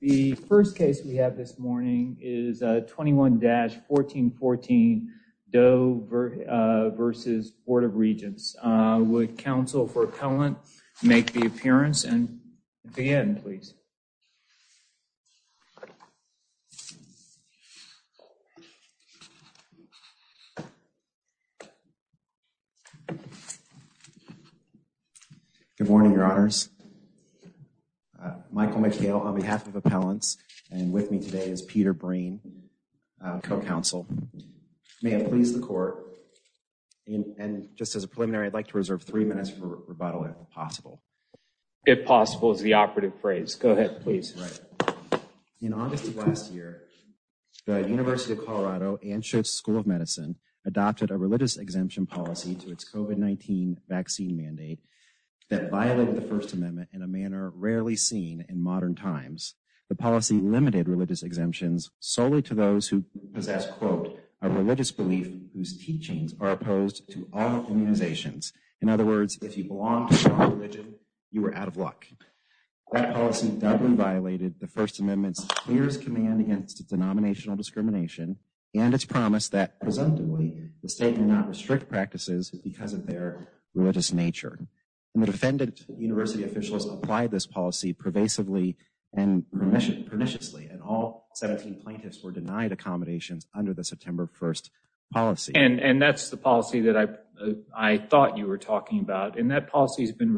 The first case we have this morning is 21-1414 Doe v. Board of Regents. Would counsel for Appellant make the appearance and the end please. Good morning your honors. Michael McHale on behalf of Appellants and with me today is Peter Breen, co-counsel. May I please the court and just as a preliminary I'd like to reserve three minutes for rebuttal if possible. If possible is the operative phrase. Go ahead please. In August of last year the University of Colorado Anschutz School of Medicine adopted a religious exemption policy to its COVID-19 vaccine mandate that violated the first amendment in a manner rarely seen in modern times. The policy limited religious exemptions solely to those who possess quote a religious belief whose teachings are opposed to all immunizations. In other words if you belong to a religion you were out of luck. That policy violated the first amendment's clearest command against denominational discrimination and its promise that presumptively the state may not restrict practices because of their religious nature. The defendant university officials applied this policy pervasively and perniciously and all 17 plaintiffs were denied accommodations under the September 1st policy. And that's the policy that I thought you were talking about and that policy has been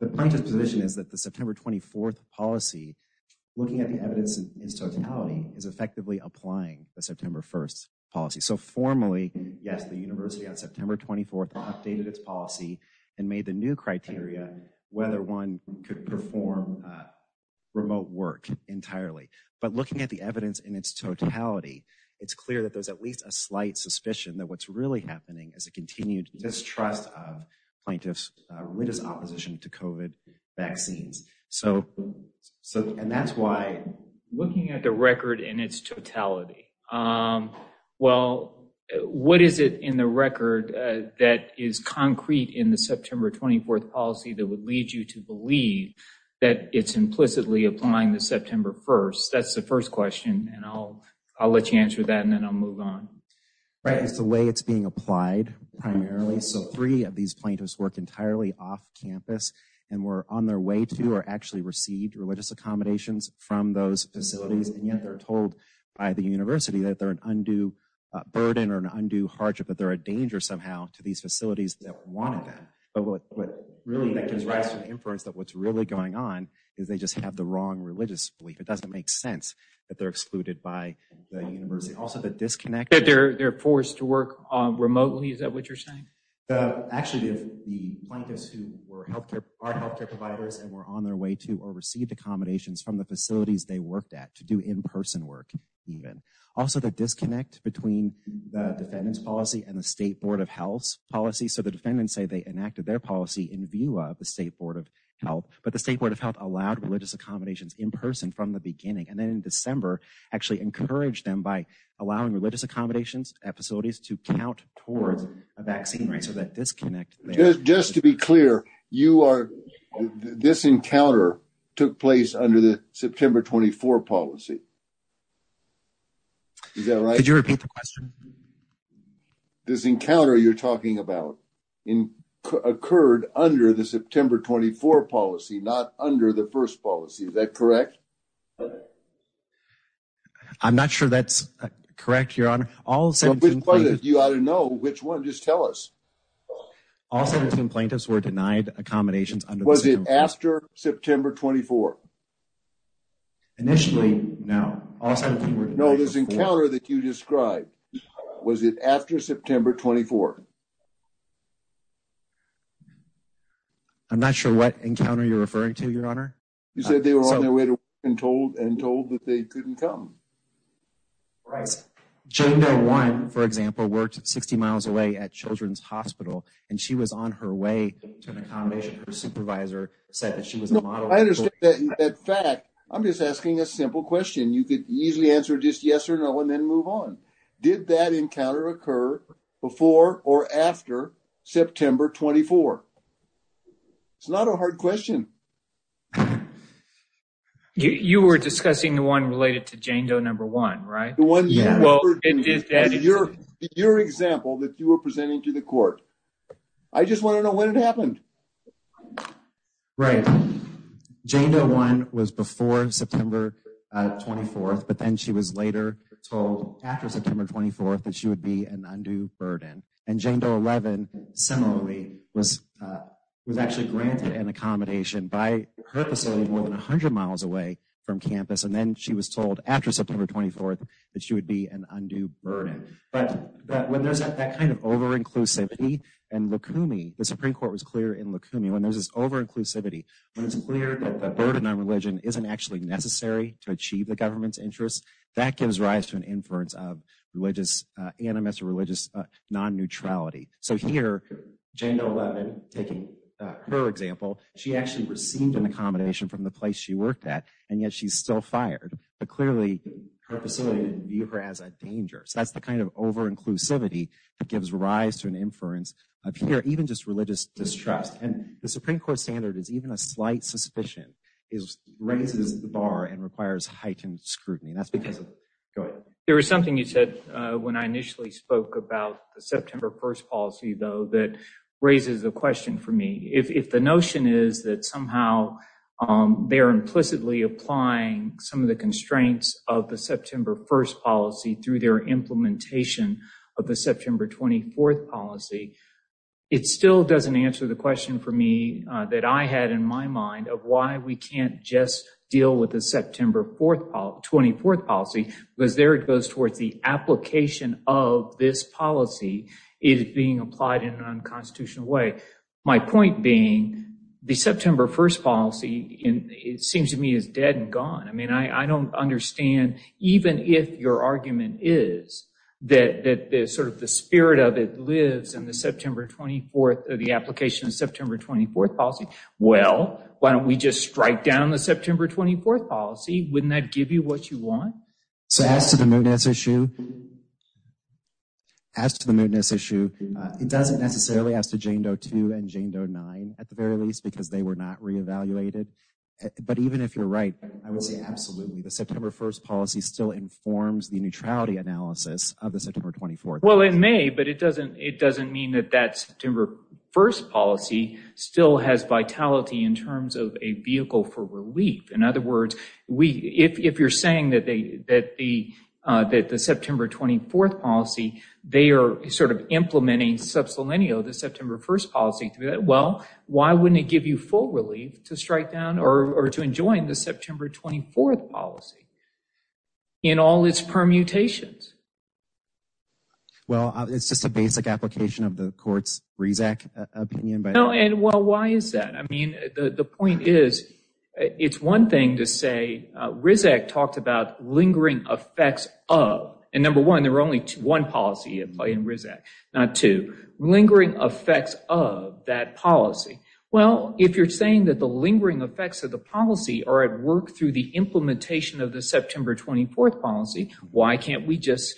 the plaintiff's position is that the September 24th policy looking at the evidence in totality is effectively applying the September 1st policy. So formally yes the university on September 24th updated its policy and made the new criteria whether one could perform remote work entirely. But looking at the evidence in its totality it's clear that there's at least a slight suspicion that what's really happening is a continued distrust of plaintiffs religious opposition to COVID vaccines. So and that's why looking at the record in its totality well what is it in the record that is concrete in the September 24th policy that would lead you to believe that it's implicitly applying the September 1st? That's the first question and I'll let you answer that and I'll move on. Right it's the way it's being applied primarily. So three of these plaintiffs work entirely off campus and were on their way to or actually received religious accommodations from those facilities and yet they're told by the university that they're an undue burden or an undue hardship that they're a danger somehow to these facilities that wanted them. But what really that gives rise to the inference that what's really going on is they just have the disconnect. That they're they're forced to work remotely is that what you're saying? The actually the plaintiffs who were healthcare are healthcare providers and were on their way to or received accommodations from the facilities they worked at to do in-person work even. Also the disconnect between the defendant's policy and the state board of health's policy. So the defendants say they enacted their policy in view of the state board of health but the state board of health allowed religious accommodations in person from the beginning and then in December actually encouraged them by allowing religious accommodations at facilities to count towards a vaccine right so that disconnect. Just to be clear you are this encounter took place under the September 24 policy. Is that right? Could you repeat the question? This encounter you're talking about in occurred under the September 24 policy not under the first policy is that correct? I'm not sure that's correct your honor. You ought to know which one just tell us. All 17 plaintiffs were denied accommodations. Was it after September 24? Initially no. No this encounter that you described was it after September 24? I'm not sure what encounter you're referring to your honor. You said they were on their way to they couldn't come. Jada one for example worked 60 miles away at children's hospital and she was on her way to an accommodation her supervisor said that she was a model. I understand that fact I'm just asking a simple question you could easily answer just yes or no and then move on. Did that encounter occur before or after September 24? It's not a hard question. You were discussing the one related to Jane Doe number one right? The one yeah well it did that your example that you were presenting to the court. I just want to know when it happened. Right Jane Doe one was before September 24th but then she was later told after September 24th that she would be an undue burden and Jane Doe 11 similarly was actually granted an accommodation by her facility more than 100 miles away from campus and then she was told after September 24th that she would be an undue burden but when there's that kind of over inclusivity and lukumi the Supreme Court was clear in lukumi when there's this over inclusivity when it's clear that the burden on religion isn't actually necessary to achieve the government's interests that gives rise to an inference of religious animus or religious non-neutrality so here Jane Doe 11 taking her example she actually received an accommodation from the place she worked at and yet she's still fired but clearly her facility didn't view her as a danger so that's the kind of over inclusivity that gives rise to an inference of here even just religious distrust and the Supreme Court standard is even a slight suspicion is raises the bar and requires heightened scrutiny that's because of go ahead. There was something you said when I spoke about the September 1st policy though that raises a question for me if the notion is that somehow they're implicitly applying some of the constraints of the September 1st policy through their implementation of the September 24th policy it still doesn't answer the question for me that I had in my mind of why we can't just deal with the September 24th policy because there it goes towards the application of this policy is being applied in an unconstitutional way my point being the September 1st policy in it seems to me is dead and gone I mean I don't understand even if your argument is that that sort of the spirit of it lives in the September 24th the application of September 24th policy well why don't we just strike down the September 24th wouldn't that give you what you want? So as to the mootness issue as to the mootness issue it doesn't necessarily as to Jane Doe 2 and Jane Doe 9 at the very least because they were not re-evaluated but even if you're right I would say absolutely the September 1st policy still informs the neutrality analysis of the September 24th. Well it may but it doesn't it doesn't mean that that September 1st policy still has vitality in terms of a vehicle for if you're saying that the September 24th policy they are sort of implementing sub-sillennial the September 1st policy through that well why wouldn't it give you full relief to strike down or to enjoin the September 24th policy in all its permutations? Well it's just a basic application of the court's Rezac opinion. No and well why is that I mean the point is it's one thing to say Rezac talked about lingering effects of and number one there were only two one policy in Rezac not two lingering effects of that policy well if you're saying that the lingering effects of the policy are at work through the implementation of the September 24th policy why can't we just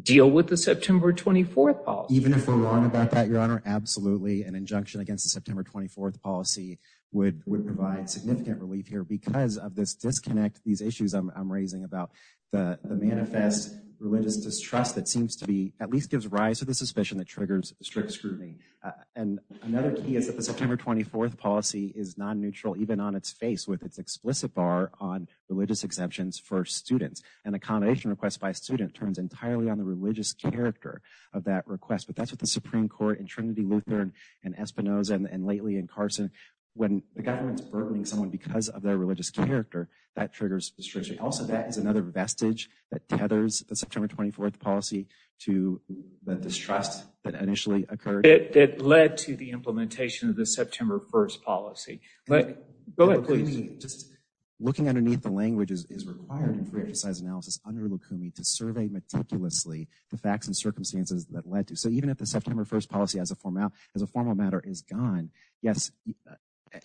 deal with the September 24th policy? Even if we're wrong about that your an injunction against the September 24th policy would would provide significant relief here because of this disconnect these issues I'm raising about the manifest religious distrust that seems to be at least gives rise to the suspicion that triggers strict scrutiny and another key is that the September 24th policy is non-neutral even on its face with its explicit bar on religious exemptions for students. An accommodation request by a student turns entirely on the religious character of that request but that's what the Supreme Court in Trinity Lutheran and Espinosa and lately in Carson when the government's burdening someone because of their religious character that triggers restriction also that is another vestige that tethers the September 24th policy to the distrust that initially occurred. It led to the implementation of the September 1st policy but go ahead please. Just looking underneath the language is required in free exercise analysis under Lukumi to survey meticulously the facts and circumstances that led to so even if the September 1st policy as a formal as a formal matter is gone yes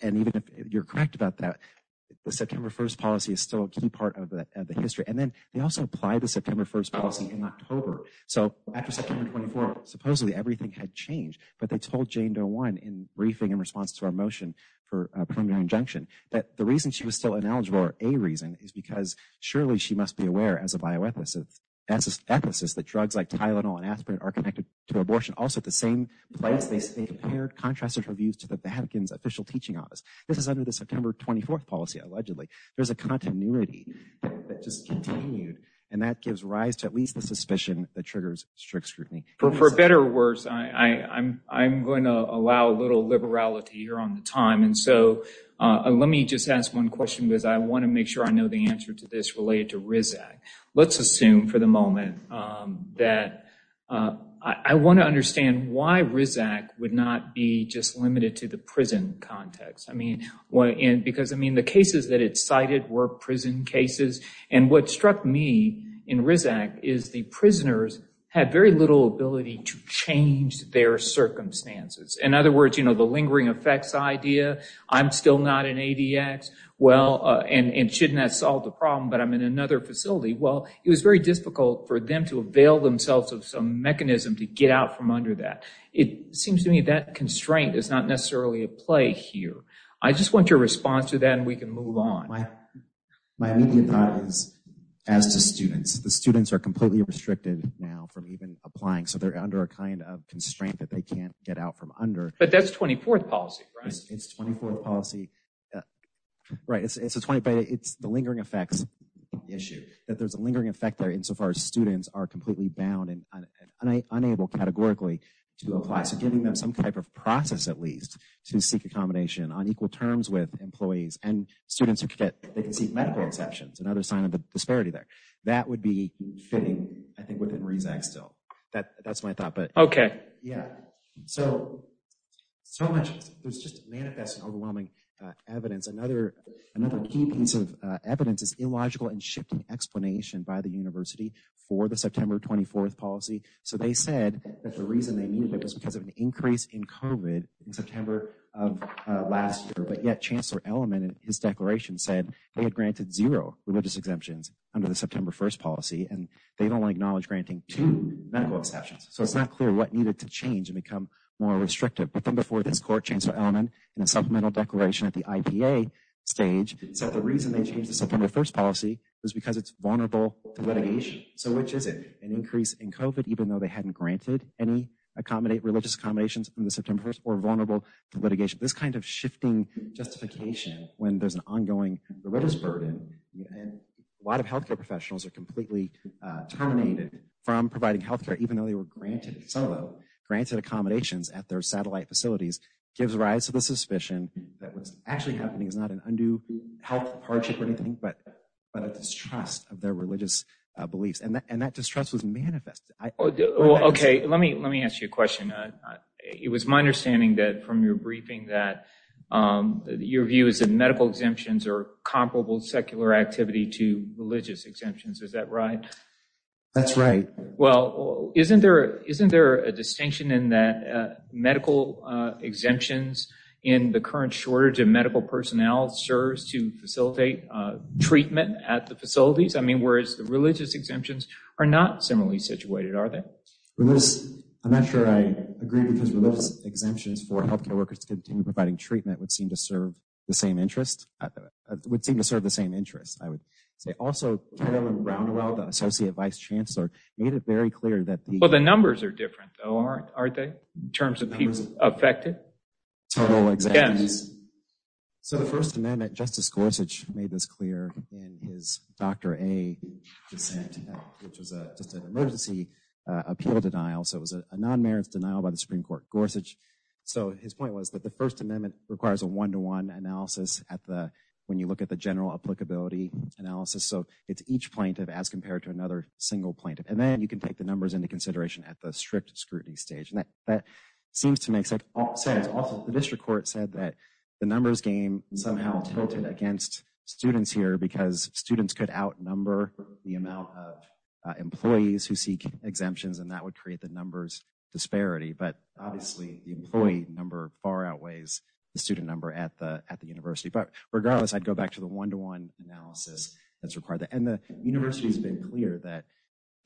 and even if you're correct about that the September 1st policy is still a key part of the history and then they also apply the September 1st policy in October so after September 24 supposedly everything had changed but they told Jane Doe one in briefing in response to our motion for a preliminary injunction that the reason she was still ineligible or a reason is because surely she must be aware as a abortion also at the same place they compared contrasted reviews to the Vatican's official teaching office this is under the September 24th policy allegedly there's a continuity that just continued and that gives rise to at least the suspicion that triggers strict scrutiny. For better or worse I'm going to allow a little liberality here on the time and so let me just ask one question because I want to make sure I know the answer to this related to I want to understand why RISAC would not be just limited to the prison context I mean what and because I mean the cases that it cited were prison cases and what struck me in RISAC is the prisoners had very little ability to change their circumstances in other words you know the lingering effects idea I'm still not an ADX well and and shouldn't that solve the problem but I'm in another facility well it was very difficult for them to avail themselves of some mechanism to get out from under that it seems to me that constraint is not necessarily a play here I just want your response to that and we can move on. My immediate thought is as to students the students are completely restricted now from even applying so they're under a kind of constraint that they can't get out from under but that's 24th policy right it's 24th policy right it's the lingering effects issue that there's a lingering effect there insofar as students are completely bound and unable categorically to apply so giving them some type of process at least to seek accommodation on equal terms with employees and students who could get they can see medical exceptions another sign of the disparity there that would be fitting I think within RISAC still that that's my thought but okay yeah so so much there's just manifest overwhelming evidence another another key piece of evidence is illogical and shifting explanation by the university for the September 24th policy so they said that the reason they needed it was because of an increase in COVID in September of last year but yet Chancellor Elliman and his declaration said they had granted zero religious exemptions under the September 1st policy and they've only acknowledged granting two medical exceptions so it's not clear what needed to change and become more restrictive but then before this court Chancellor Elliman in a supplemental declaration at the IPA stage said the reason they changed the September 1st policy was because it's vulnerable to litigation so which is it an increase in COVID even though they hadn't granted any accommodate religious accommodations in the September 1st or vulnerable to litigation this kind of shifting justification when there's an ongoing religious burden and a lot of healthcare professionals are completely terminated from providing health care even though they were some of them granted accommodations at their satellite facilities gives rise to the suspicion that what's actually happening is not an undue health hardship or anything but but a distrust of their religious beliefs and that and that distrust was manifest okay let me let me ask you a question it was my understanding that from your briefing that your view is that medical exemptions are comparable secular activity to religious exemptions is that right that's right well isn't there isn't there a distinction in that medical exemptions in the current shortage of medical personnel serves to facilitate treatment at the facilities i mean whereas the religious exemptions are not similarly situated are they this i'm not sure i agree because religious exemptions for healthcare workers to continue providing treatment would seem to serve the same interest would seem to serve the same interest i would say also brownwell the associate vice chancellor made it very clear that well the numbers are different though aren't aren't they in terms of people affected total exams so the first amendment justice gorsuch made this clear in his doctor a dissent which was a just an emergency appeal denial so it was a non-merits denial by the supreme court gorsuch so his point was that the first amendment requires a one-to-one analysis at the when you look at the general applicability analysis so it's each plaintiff as compared to another single plaintiff and then you can take the numbers into consideration at the strict scrutiny stage and that that seems to make sense also the district court said that the numbers game somehow tilted against students here because students could outnumber the amount of employees who seek exemptions and that would create the numbers disparity but obviously the employee number far outweighs the student number at the at the university but regardless i'd go back to the one-to-one analysis that's required and the university's been clear that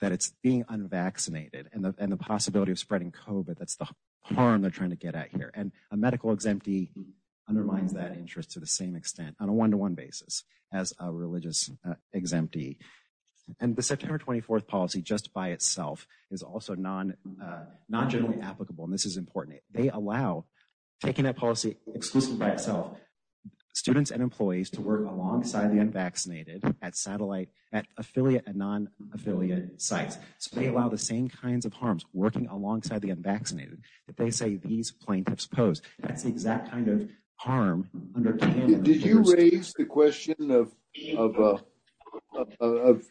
that it's being unvaccinated and the possibility of spreading covet that's the harm they're trying to get at here and a medical exemptee undermines that interest to the same extent on a one-to-one basis as a religious exemptee and the september 24th policy just by itself is also non uh not generally applicable and this is important they allow taking that policy exclusively by itself students and employees to work alongside the unvaccinated at satellite at affiliate and non-affiliate sites so they allow the same kinds of harms working alongside the unvaccinated that they say these plaintiffs pose that's the exact kind of harm under did you raise the question of of uh of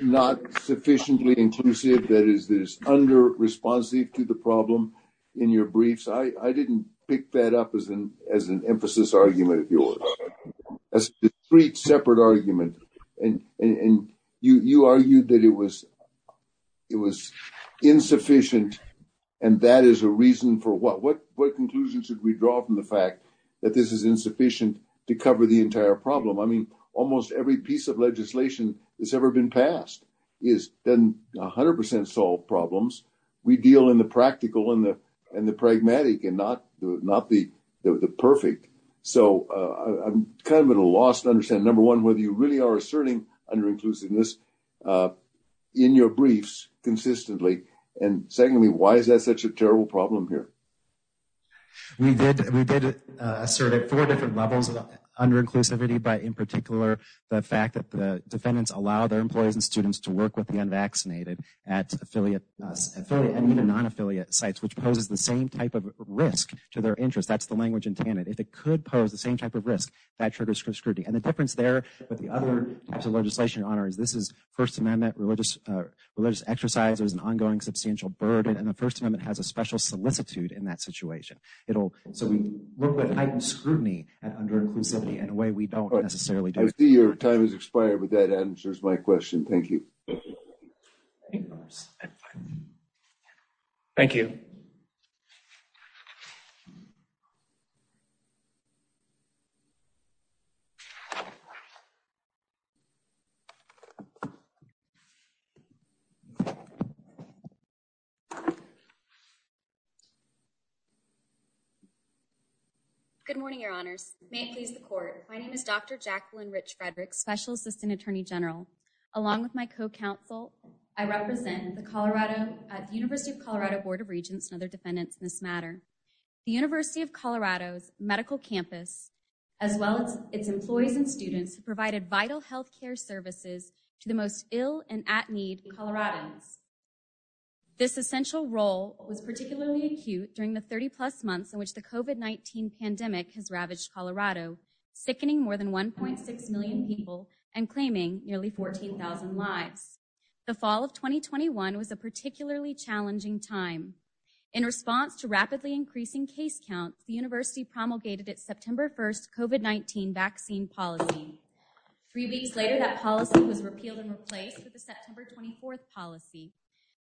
not sufficiently inclusive that is this under responsive to the problem in your briefs i i didn't pick that up as an as an emphasis argument of yours as a discrete separate argument and and you you argued that it was it was insufficient and that is a reason for what what what conclusions should we draw from the fact that this is insufficient to cover the entire problem i mean almost every piece of legislation has ever been passed is then 100 solve problems we deal in the practical and the and the pragmatic and not not the the perfect so uh i'm kind of at a loss to understand number one whether you really are asserting under inclusiveness uh in your briefs consistently and secondly why is that such a terrible problem here we did we did assert at four different levels of under inclusivity but in particular the fact that the defendants allow their employees and students to work with the unvaccinated at affiliate affiliate and even non-affiliate sites which poses the same type of risk to their interest that's the language intended if it could pose the same type of risk that triggers for scrutiny and the difference there but the other types of legislation honors this is first amendment religious uh religious exercise there's an ongoing substantial burden and the first amendment has a special solicitude in that situation it'll so we look at heightened scrutiny and under inclusivity in a way we don't necessarily do i see your time has expired but that answers my question thank you thank you so good morning your honors may it please the court my name is dr jacqueline rich frederick special assistant attorney general along with my co-counsel i represent the colorado at the university of colorado's medical campus as well as its employees and students who provided vital health care services to the most ill and at need coloradans this essential role was particularly acute during the 30 plus months in which the covet 19 pandemic has ravaged colorado sickening more than 1.6 million people and claiming nearly 14 000 lives the fall of 2021 was a particularly challenging time in response to rapidly increasing case counts the university promulgated its september 1st covet 19 vaccine policy three weeks later that policy was repealed and replaced with the september 24th policy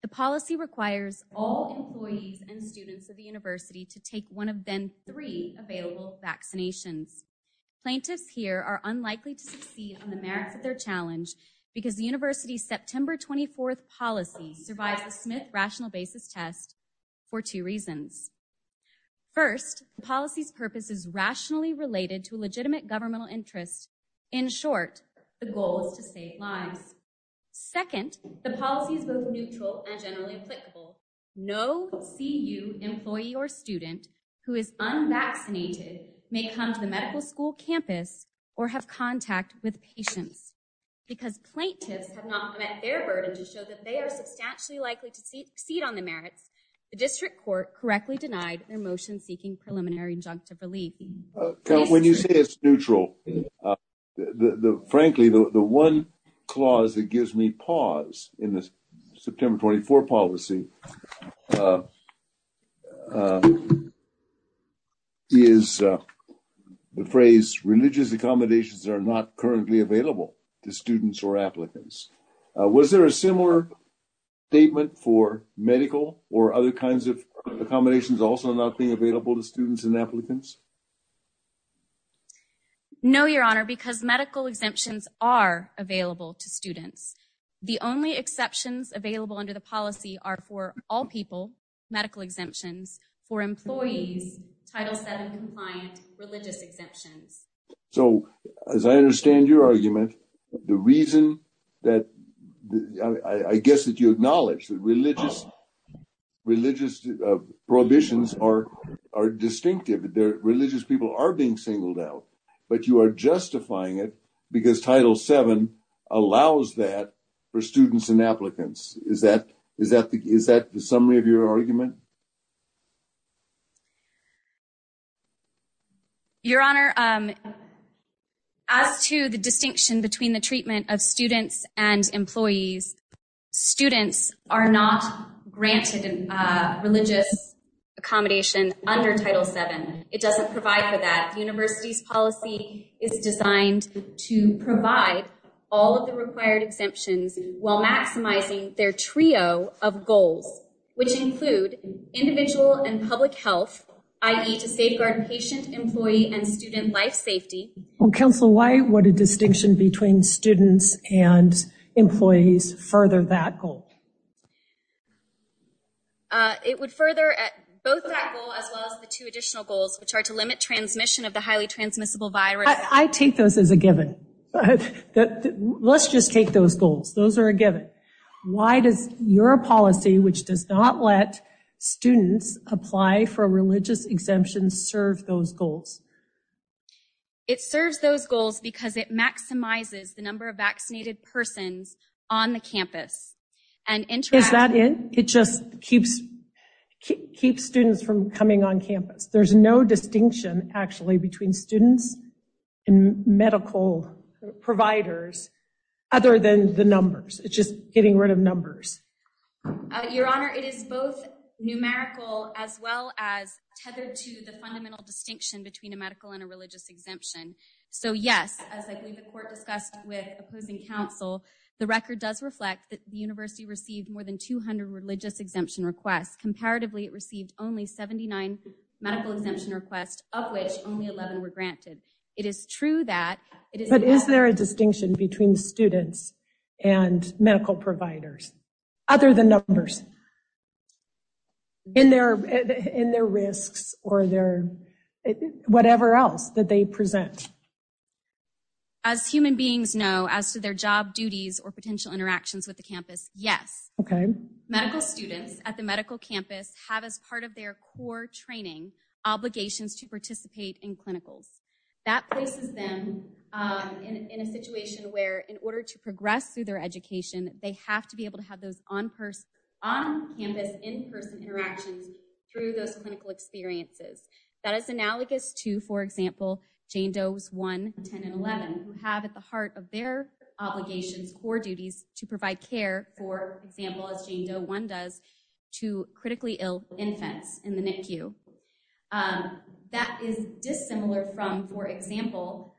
the policy requires all employees and students of the university to take one of then three available vaccinations plaintiffs here are unlikely to survive the smith rational basis test for two reasons first the policy's purpose is rationally related to a legitimate governmental interest in short the goal is to save lives second the policy is both neutral and generally applicable no cu employee or student who is unvaccinated may come to the medical school campus or have contact with patients because plaintiffs have not met their burden to show that they are substantially likely to succeed on the merits the district court correctly denied their motion seeking preliminary injunctive relief when you say it's neutral the the frankly the the one clause that gives me pause in the september 24 policy uh uh is uh the phrase religious accommodations are not currently available to students or applicants was there a similar statement for medical or other kinds of accommodations also not being available to students and applicants no your honor because medical exemptions are available to students the only exceptions available under the policy are for all people medical exemptions for employees title 7 compliant religious exemptions so as i understand your argument the reason that i i guess that you acknowledge that religious religious prohibitions are are distinctive their religious people are being singled out but you are justifying it because title 7 allows that for students and applicants is that is that the is that the summary of your argument your honor as to the distinction between the treatment of students and employees students are not granted a religious accommodation under title 7 it doesn't provide for that university's policy is designed to provide all of the required exemptions while maximizing their and student life safety council why what a distinction between students and employees further that goal uh it would further both that goal as well as the two additional goals which are to limit transmission of the highly transmissible virus i take those as a given let's just take those goals those are a given why does your policy which does not let students apply for a religious exemption serve those goals it serves those goals because it maximizes the number of vaccinated persons on the campus and is that it it just keeps keep students from coming on campus there's no distinction actually between students and medical providers other than the as well as tethered to the fundamental distinction between a medical and a religious exemption so yes as i believe the court discussed with opposing counsel the record does reflect that the university received more than 200 religious exemption requests comparatively it received only 79 medical exemption requests of which only 11 were granted it is true that but is there a in their risks or their whatever else that they present as human beings know as to their job duties or potential interactions with the campus yes okay medical students at the medical campus have as part of their core training obligations to participate in clinicals that places them in in a situation where in order to progress through their education they have to be able to have those on person on campus in-person interactions through those clinical experiences that is analogous to for example jane doe's 110 and 11 who have at the heart of their obligations core duties to provide care for example as jane doe one does to critically ill infants in the NICU that is dissimilar from for example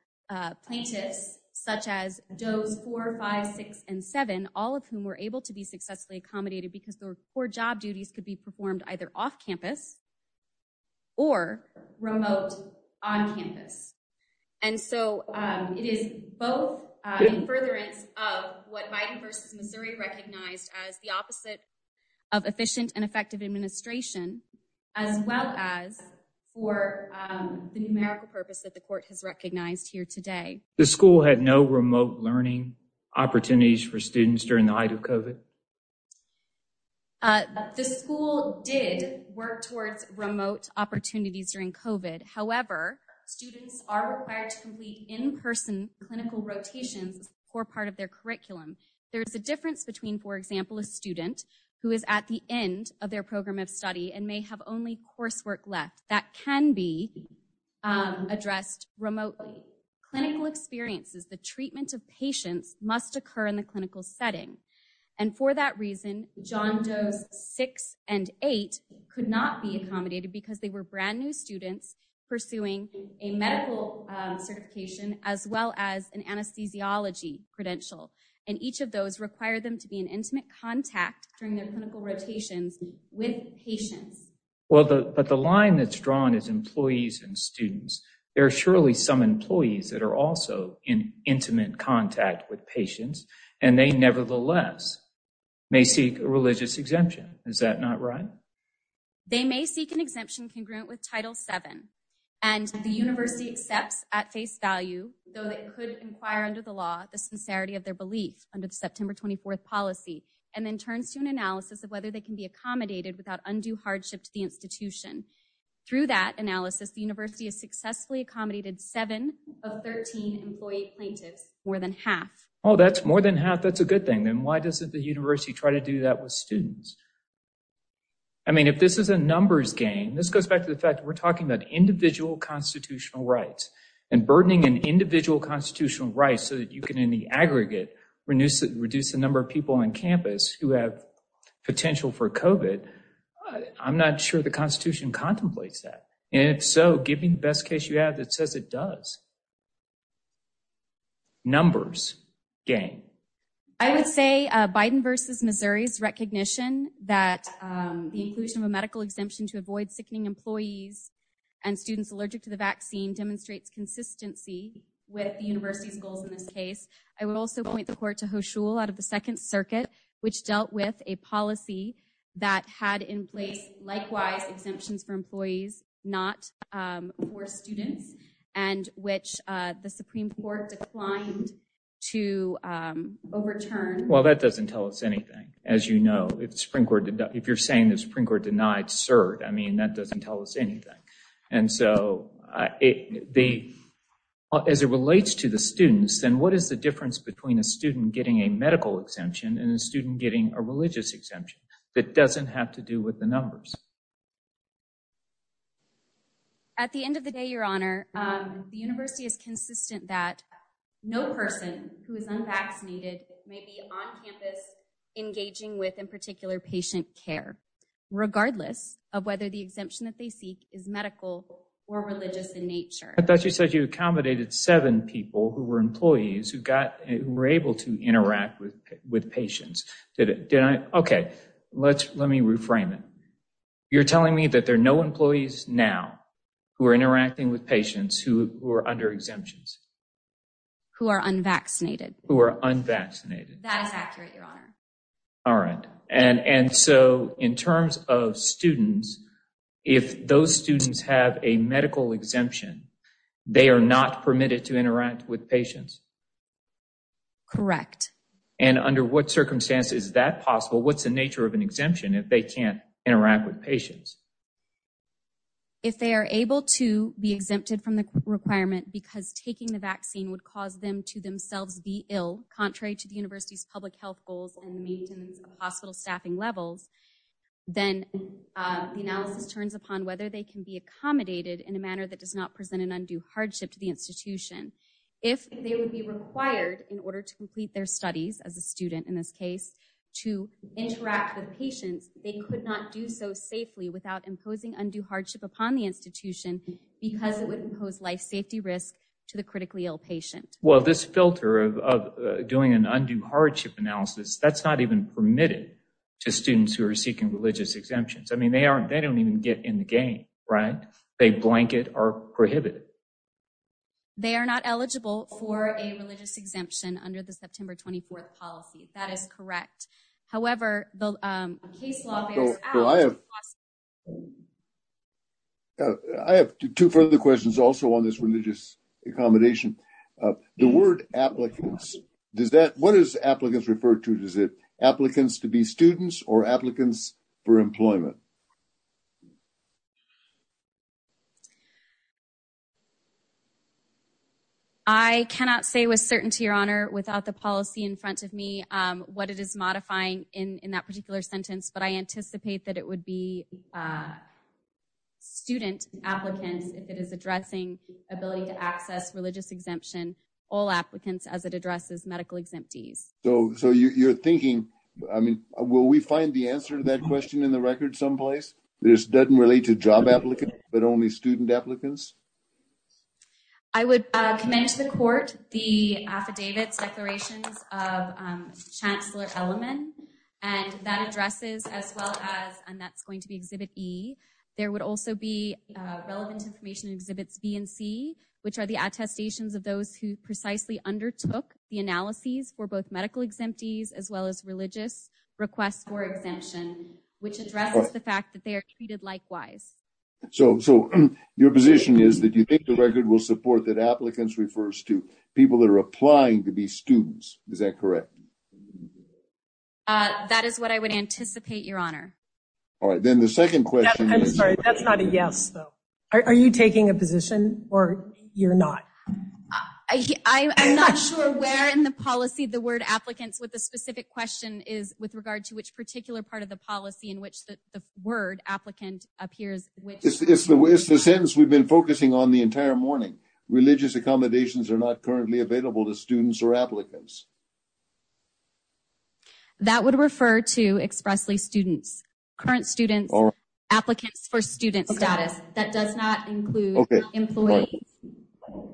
plaintiffs such as does four five six and seven all of whom were able to be successfully accommodated because their core job duties could be performed either off campus or remote on campus and so it is both in furtherance of what biden versus missouri recognized as the opposite of efficient and effective administration as well as for the numerical purpose that the court has recognized here today the school had no remote learning opportunities for students during the height of covid uh the school did work towards remote opportunities during covid however students are required to complete in-person clinical rotations as a core part of their curriculum there is a difference between for example a student who is at the end of their program of study and may have only coursework left that can be addressed remotely clinical experiences the treatment of patients must occur in the clinical setting and for that reason john does six and eight could not be accommodated because they were brand new students pursuing a medical certification as well as an anesthesiology credential and each of those require them to be an intimate contact during their clinical rotations with patients well the but the line that's drawn is employees and students there are surely some employees that are also in intimate contact with patients and they nevertheless may seek a religious exemption is that not right they may seek an exemption congruent with title 7 and the university accepts at face value though they could inquire under the law the sincerity of their belief under the september 24th policy and then turns to an analysis of whether they can be accommodated without undue hardship to the institution through that analysis the university has successfully accommodated 7 of 13 employee plaintiffs more than half oh that's more than half that's a good thing then why doesn't the university try to do that with students i mean if this is a numbers game this goes back to the fact we're talking about individual constitutional rights and burdening an individual constitutional rights so that you can in the potential for covid i'm not sure the constitution contemplates that and if so give me the best case you have that says it does numbers game i would say uh biden versus missouri's recognition that um the inclusion of a medical exemption to avoid sickening employees and students allergic to the vaccine demonstrates consistency with the university's goals in this case i would also point the court out of the second circuit which dealt with a policy that had in place likewise exemptions for employees not um for students and which uh the supreme court declined to um overturn well that doesn't tell us anything as you know it's supreme court if you're saying the supreme court denied cert i mean that doesn't tell us anything and so i it the as it relates to the students then what is the difference between a student getting a medical exemption and a student getting a religious exemption that doesn't have to do with the numbers at the end of the day your honor um the university is consistent that no person who is unvaccinated may be on campus engaging with in particular patient care regardless of whether the exemption that they seek is medical or religious in nature i thought who got who were able to interact with with patients did it did i okay let's let me reframe it you're telling me that there are no employees now who are interacting with patients who are under exemptions who are unvaccinated who are unvaccinated that is accurate your honor all right and and so in terms of students if those students have a medical exemption they are not permitted to interact with patients correct and under what circumstances is that possible what's the nature of an exemption if they can't interact with patients if they are able to be exempted from the requirement because taking the vaccine would cause them to themselves be ill contrary to the university's public health goals and the maintenance of hospital staffing levels then the analysis turns upon whether they can be accommodated in a manner that does not present an undue hardship to the institution if they would be required in order to complete their studies as a student in this case to interact with patients they could not do so safely without imposing undue hardship upon the institution because it would impose life safety risk to the critically ill patient well this filter of doing an undue hardship analysis that's not even permitted to students who are seeking religious exemptions i mean they aren't they don't even get in the game right they blanket are prohibited they are not eligible for a religious exemption under the september 24th policy that is correct however the case law i have i have two further questions also on this religious accommodation the word applicants does that what is applicants referred to does it applicants to students or applicants for employment i cannot say with certainty your honor without the policy in front of me um what it is modifying in in that particular sentence but i anticipate that it would be uh student applicants if it is addressing ability to access religious exemption all will we find the answer to that question in the record someplace this doesn't relate to job applicants but only student applicants i would commend to the court the affidavits declarations of chancellor element and that addresses as well as and that's going to be exhibit e there would also be relevant information exhibits b and c which are the attestations of those who precisely undertook the analyses for medical exemptees as well as religious requests for exemption which addresses the fact that they are treated likewise so so your position is that you think the record will support that applicants refers to people that are applying to be students is that correct uh that is what i would anticipate your honor all right then the second question i'm sorry that's not a yes though are you taking a position or you're not i i'm not sure where in the policy the word applicants with a specific question is with regard to which particular part of the policy in which the word applicant appears which is the way it's the sentence we've been focusing on the entire morning religious accommodations are not currently available to students or applicants that would refer to expressly students current students or status that does not include employees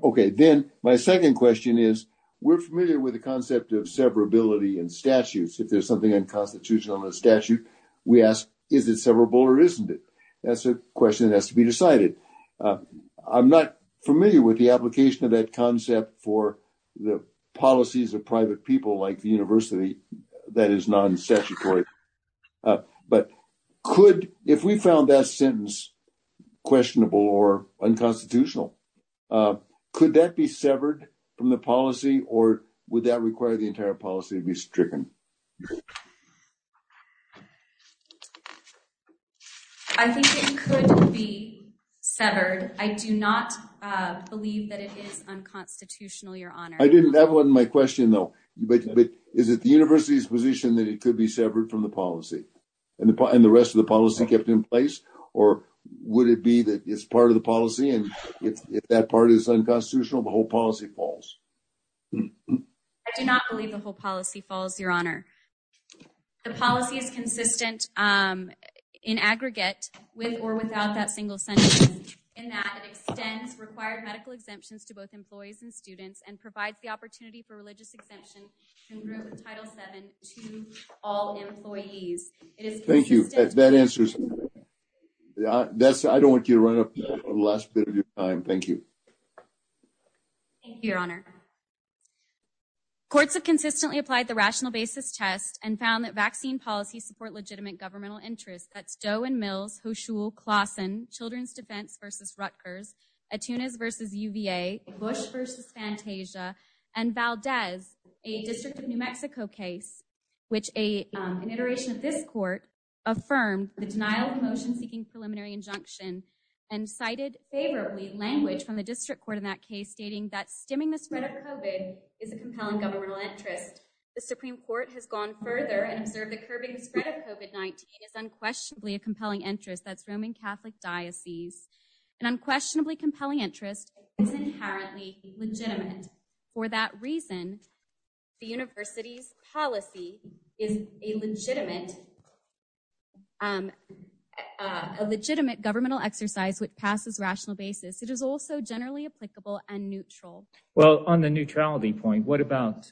okay then my second question is we're familiar with the concept of severability and statutes if there's something unconstitutional in the statute we ask is it severable or isn't it that's a question that has to be decided i'm not familiar with the application of that concept for the policies of private people like the university that is non-statutory but could if we found that sentence questionable or unconstitutional could that be severed from the policy or would that require the entire policy to be stricken i think it could be severed i do not believe that it is unconstitutional your honor i didn't have my question though but is it the university's position that it could be severed from the policy and the rest of the policy kept in place or would it be that it's part of the policy and if that part is unconstitutional the whole policy falls i do not believe the whole policy falls your honor the policy is consistent um in aggregate with or without that single sentence in that it extends required medical exemptions to both employees and students and provides the opportunity for religious exemption congruent with title 7 to all employees it is thank you that answers yeah that's i don't want you to run up the last bit of your time thank you thank you your honor courts have consistently applied the rational basis test and found that vaccine policies support legitimate governmental interests that's doe and mills hoshuel clausen children's defense versus rutgers attunas versus uva bush versus fantasia and valdez a district of new mexico case which a um an iteration of this court affirmed the denial of motion seeking preliminary injunction and cited favorably language from the district court in that case stating that stemming the spread of covid is a compelling governmental interest the supreme court has gone further and observed the curbing the spread of covet 19 is unquestionably a diocese an unquestionably compelling interest is inherently legitimate for that reason the university's policy is a legitimate um a legitimate governmental exercise which passes rational basis it is also generally applicable and neutral well on the neutrality point what about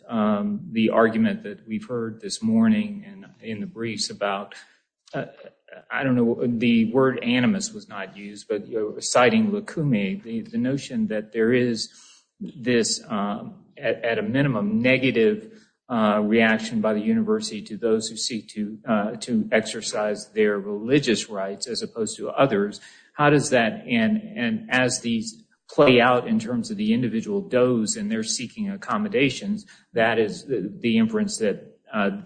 the argument that we've heard this morning and in the briefs about uh i don't know the word animus was not used but you're citing lakumi the notion that there is this um at a minimum negative uh reaction by the university to those who seek to uh to exercise their religious rights as opposed to others how does that and and as these play out in terms of the individual does and they're seeking accommodations that is the inference that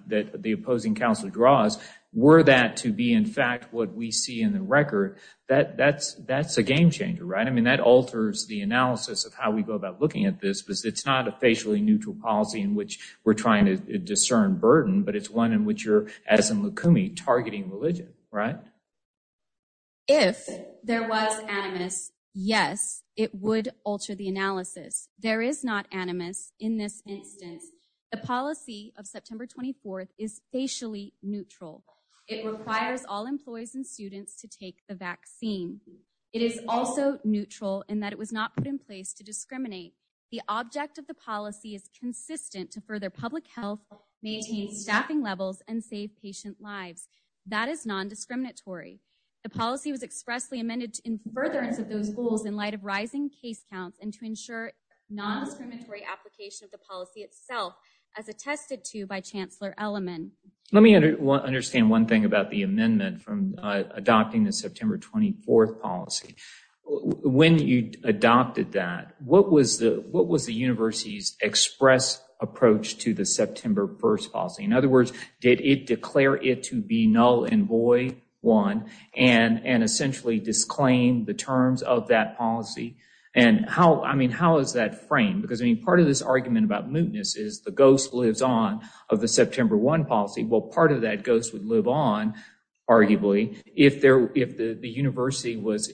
that the opposing counselor draws were that to be in fact what we see in the record that that's that's a game changer right i mean that alters the analysis of how we go about looking at this because it's not a facially neutral policy in which we're trying to discern burden but it's one in which you're as in lakumi targeting religion right if there was animus yes it would alter the analysis there is not animus in this instance the policy of september 24th is facially neutral it requires all employees and students to take the vaccine it is also neutral in that it was not put in place to discriminate the object of the policy is consistent to further public health maintain staffing levels and save patient lives that is non-discriminatory the policy was and to ensure non-discriminatory application of the policy itself as attested to by chancellor element let me under understand one thing about the amendment from adopting the september 24th policy when you adopted that what was the what was the university's express approach to the september 1st policy in other words did it declare it to be null and void one and and essentially disclaim the terms of that policy and how i mean how is that framed because i mean part of this argument about mootness is the ghost lives on of the september 1 policy well part of that ghost would live on arguably if there if the the university was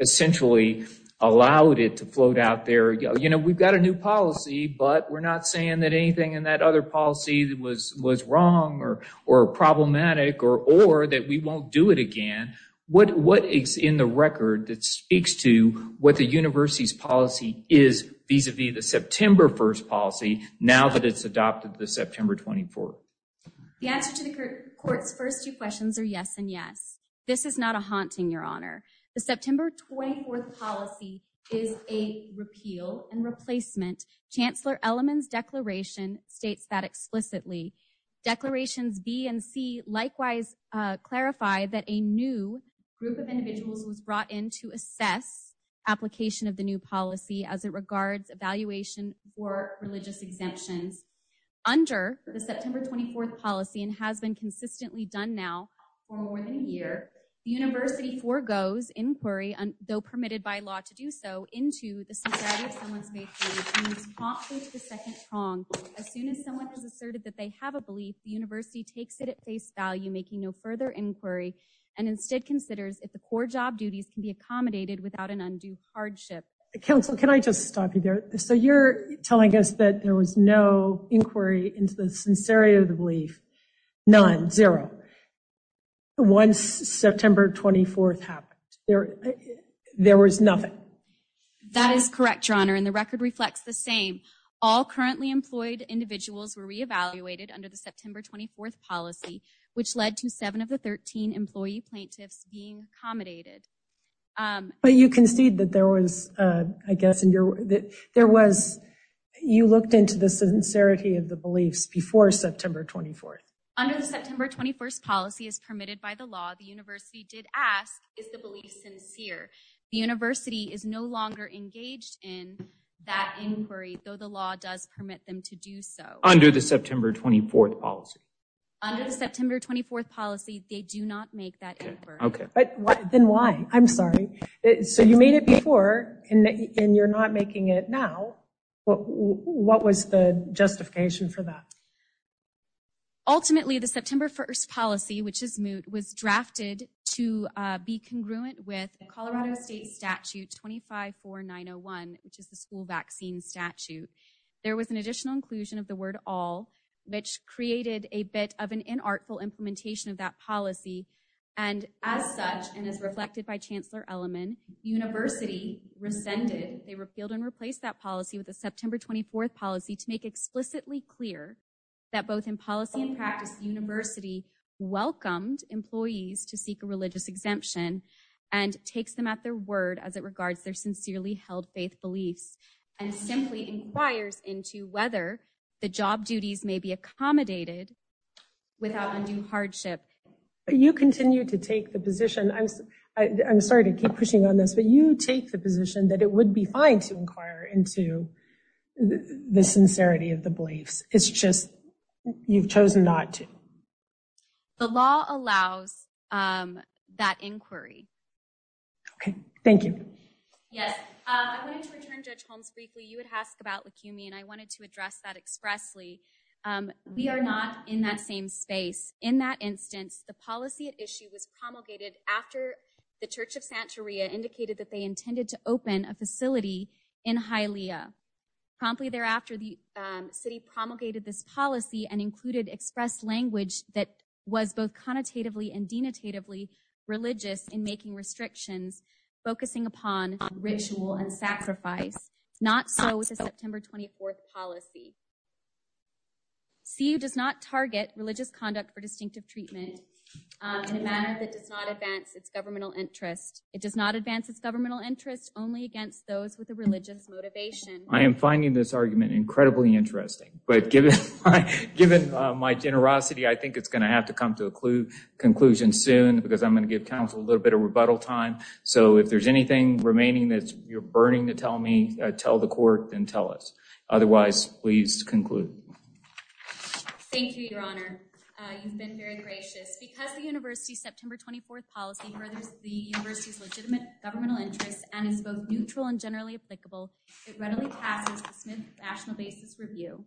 essentially allowed it to float out there you know we've got a new policy but we're not saying that anything in that other policy was was wrong or or problematic or or that we won't do it again what what is in the record that speaks to what the university's policy is vis-a-vis the september 1st policy now that it's adopted the september 24th the answer to the court's first two questions are yes and yes this is not a haunting your honor the september 24th policy is a repeal and replacement chancellor element's declaration states that explicitly declarations b and c likewise uh clarify that a new group of individuals was brought in to assess application of the new policy as it regards evaluation for religious exemptions under the september 24th policy and has been consistently done now for more than a year the university forgoes inquiry and though permitted by law to do so into the society of someone's majority as soon as someone has asserted that they have a belief the university takes it at face value making no further inquiry and instead considers if the core job duties can be accommodated without an undue hardship council can i just stop you there so you're telling us that there was no inquiry into the sincerity of the belief none zero once september 24th happened there there was nothing that is correct your honor and the record reflects the same all currently employed individuals were re-evaluated under the september 24th policy which led to seven of the 13 employee plaintiffs being accommodated but you concede that there was uh i guess in your that there was you looked into the by the law the university did ask is the belief sincere the university is no longer engaged in that inquiry though the law does permit them to do so under the september 24th policy under the september 24th policy they do not make that okay but what then why i'm sorry so you made it before and you're not making it now what what was the justification for that ultimately the september 1st policy which is moot was drafted to uh be congruent with colorado state statute 25 4901 which is the school vaccine statute there was an additional inclusion of the word all which created a bit of an inartful implementation of that policy and as such and as reflected by chancellor eleman university rescinded they repealed and replaced that policy with the practice university welcomed employees to seek a religious exemption and takes them at their word as it regards their sincerely held faith beliefs and simply inquires into whether the job duties may be accommodated without undue hardship you continue to take the position i'm i'm sorry to keep pushing on this but you take the position that it would be fine to inquire into the sincerity of the beliefs it's just you've chosen not to the law allows um that inquiry okay thank you yes i wanted to return judge holmes briefly you would ask about lakumi and i wanted to address that expressly um we are not in that same space in that instance the policy at issue was promulgated after the church of santeria indicated that they intended to open a facility in hylia promptly thereafter the city promulgated this policy and included expressed language that was both connotatively and denotatively religious in making restrictions focusing upon ritual and sacrifice not so with the september 24th policy cu does not target religious conduct for distinctive treatment in a manner that does not advance its governmental interest it does not advance its governmental interest only against those with a religion's motivation i am finding this argument incredibly interesting but given given my generosity i think it's going to have to come to a clue conclusion soon because i'm going to give council a little bit of rebuttal time so if there's anything remaining that you're burning to tell me tell the court and tell us otherwise please conclude thank you your honor you've been very gracious because the university september 24th policy furthers the university's legitimate governmental interests and is both neutral and generally applicable it readily passes the smith national basis review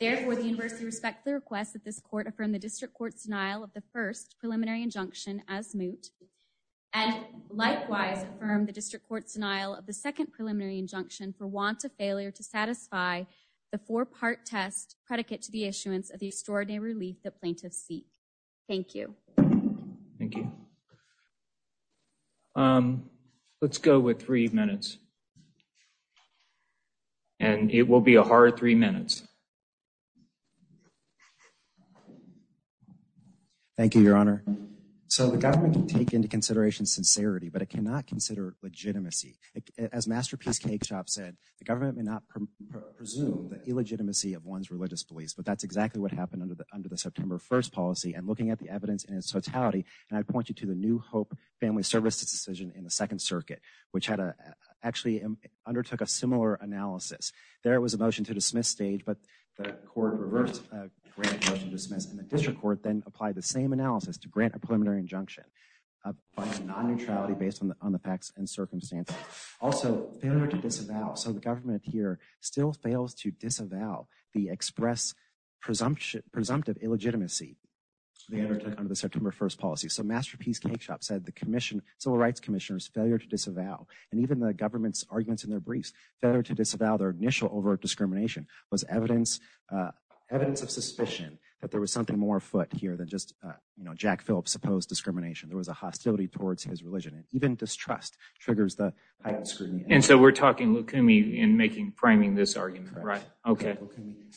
therefore the university respect the request that this court affirmed the district court's denial of the first preliminary injunction as moot and likewise affirmed the district court's denial of the second preliminary injunction for want of failure to satisfy the four-part test predicate to the thank you um let's go with three minutes and it will be a hard three minutes thank you your honor so the government can take into consideration sincerity but it cannot consider legitimacy as masterpiece cake shop said the government may not presume the illegitimacy of one's religious beliefs but that's exactly what happened under the under the september first policy and looking at the evidence in its totality and i'd point you to the new hope family services decision in the second circuit which had a actually undertook a similar analysis there was a motion to dismiss stage but the court reversed a grant motion dismiss and the district court then applied the same analysis to grant a preliminary injunction by non-neutrality based on the facts and circumstances also failure to disavow so the government here still fails to legitimacy they undertook under the september 1st policy so masterpiece cake shop said the commission civil rights commissioners failure to disavow and even the government's arguments in their briefs failure to disavow their initial overt discrimination was evidence uh evidence of suspicion that there was something more afoot here than just uh you know jack phillips supposed discrimination there was a hostility towards his religion and even distrust triggers the high scrutiny and so we're talking lukumi in making priming this argument right okay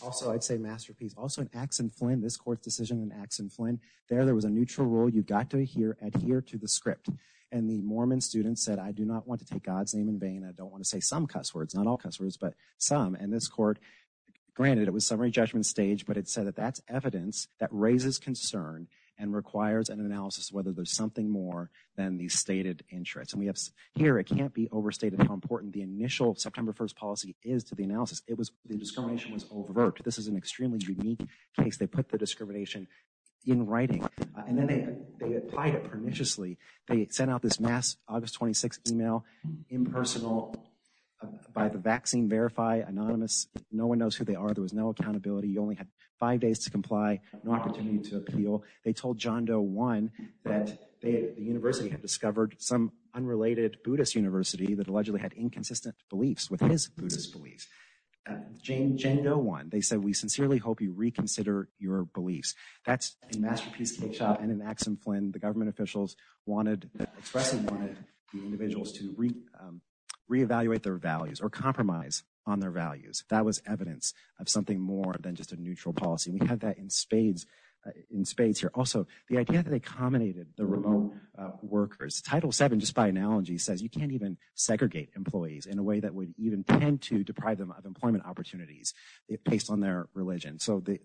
also i'd say masterpiece also in axon flynn this court's decision in axon flynn there there was a neutral rule you got to hear adhere to the script and the mormon students said i do not want to take god's name in vain i don't want to say some cuss words not all customers but some and this court granted it was summary judgment stage but it said that that's evidence that raises concern and requires an analysis whether there's something more than the stated interest and we have here it can't be overstated how important the initial september 1st policy is to the analysis it was the discrimination was overt this is an extremely unique case they put the discrimination in writing and then they they applied it perniciously they sent out this mass august 26 email impersonal by the vaccine verify anonymous no one knows who they are there was no accountability you only had five days to comply no opportunity to appeal they told john doe one that they the university had discovered some unrelated buddhist university that allegedly had inconsistent beliefs with his buddhist beliefs jane jane no one they said we sincerely hope you reconsider your beliefs that's a masterpiece cake shop and in axon flynn the government officials wanted expressing wanted the individuals to reevaluate their values or compromise on their values that was evidence of something more than just a neutral policy we had that in spades in spades here also the idea that they culminated the remote workers title 7 just by analogy says you can't even segregate employees in a way that would even tend to deprive them of employment opportunities it based on their religion so the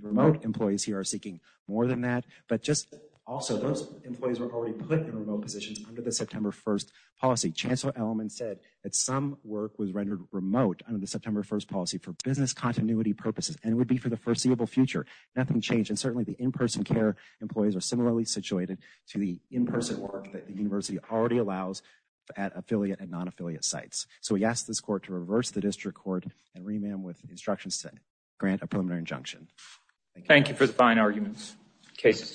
remote employees here are seeking more than that but just also those employees were already put in remote positions under the september 1st policy chancellor element said that some work was rendered remote under the september 1st policy for business continuity purposes and would be for the foreseeable future nothing changed and certainly the in-person care employees are similarly situated to the in-person that the university already allows at affiliate and non-affiliate sites so he asked this court to reverse the district court and remand with instructions to grant a preliminary injunction thank you for the fine arguments cases submitted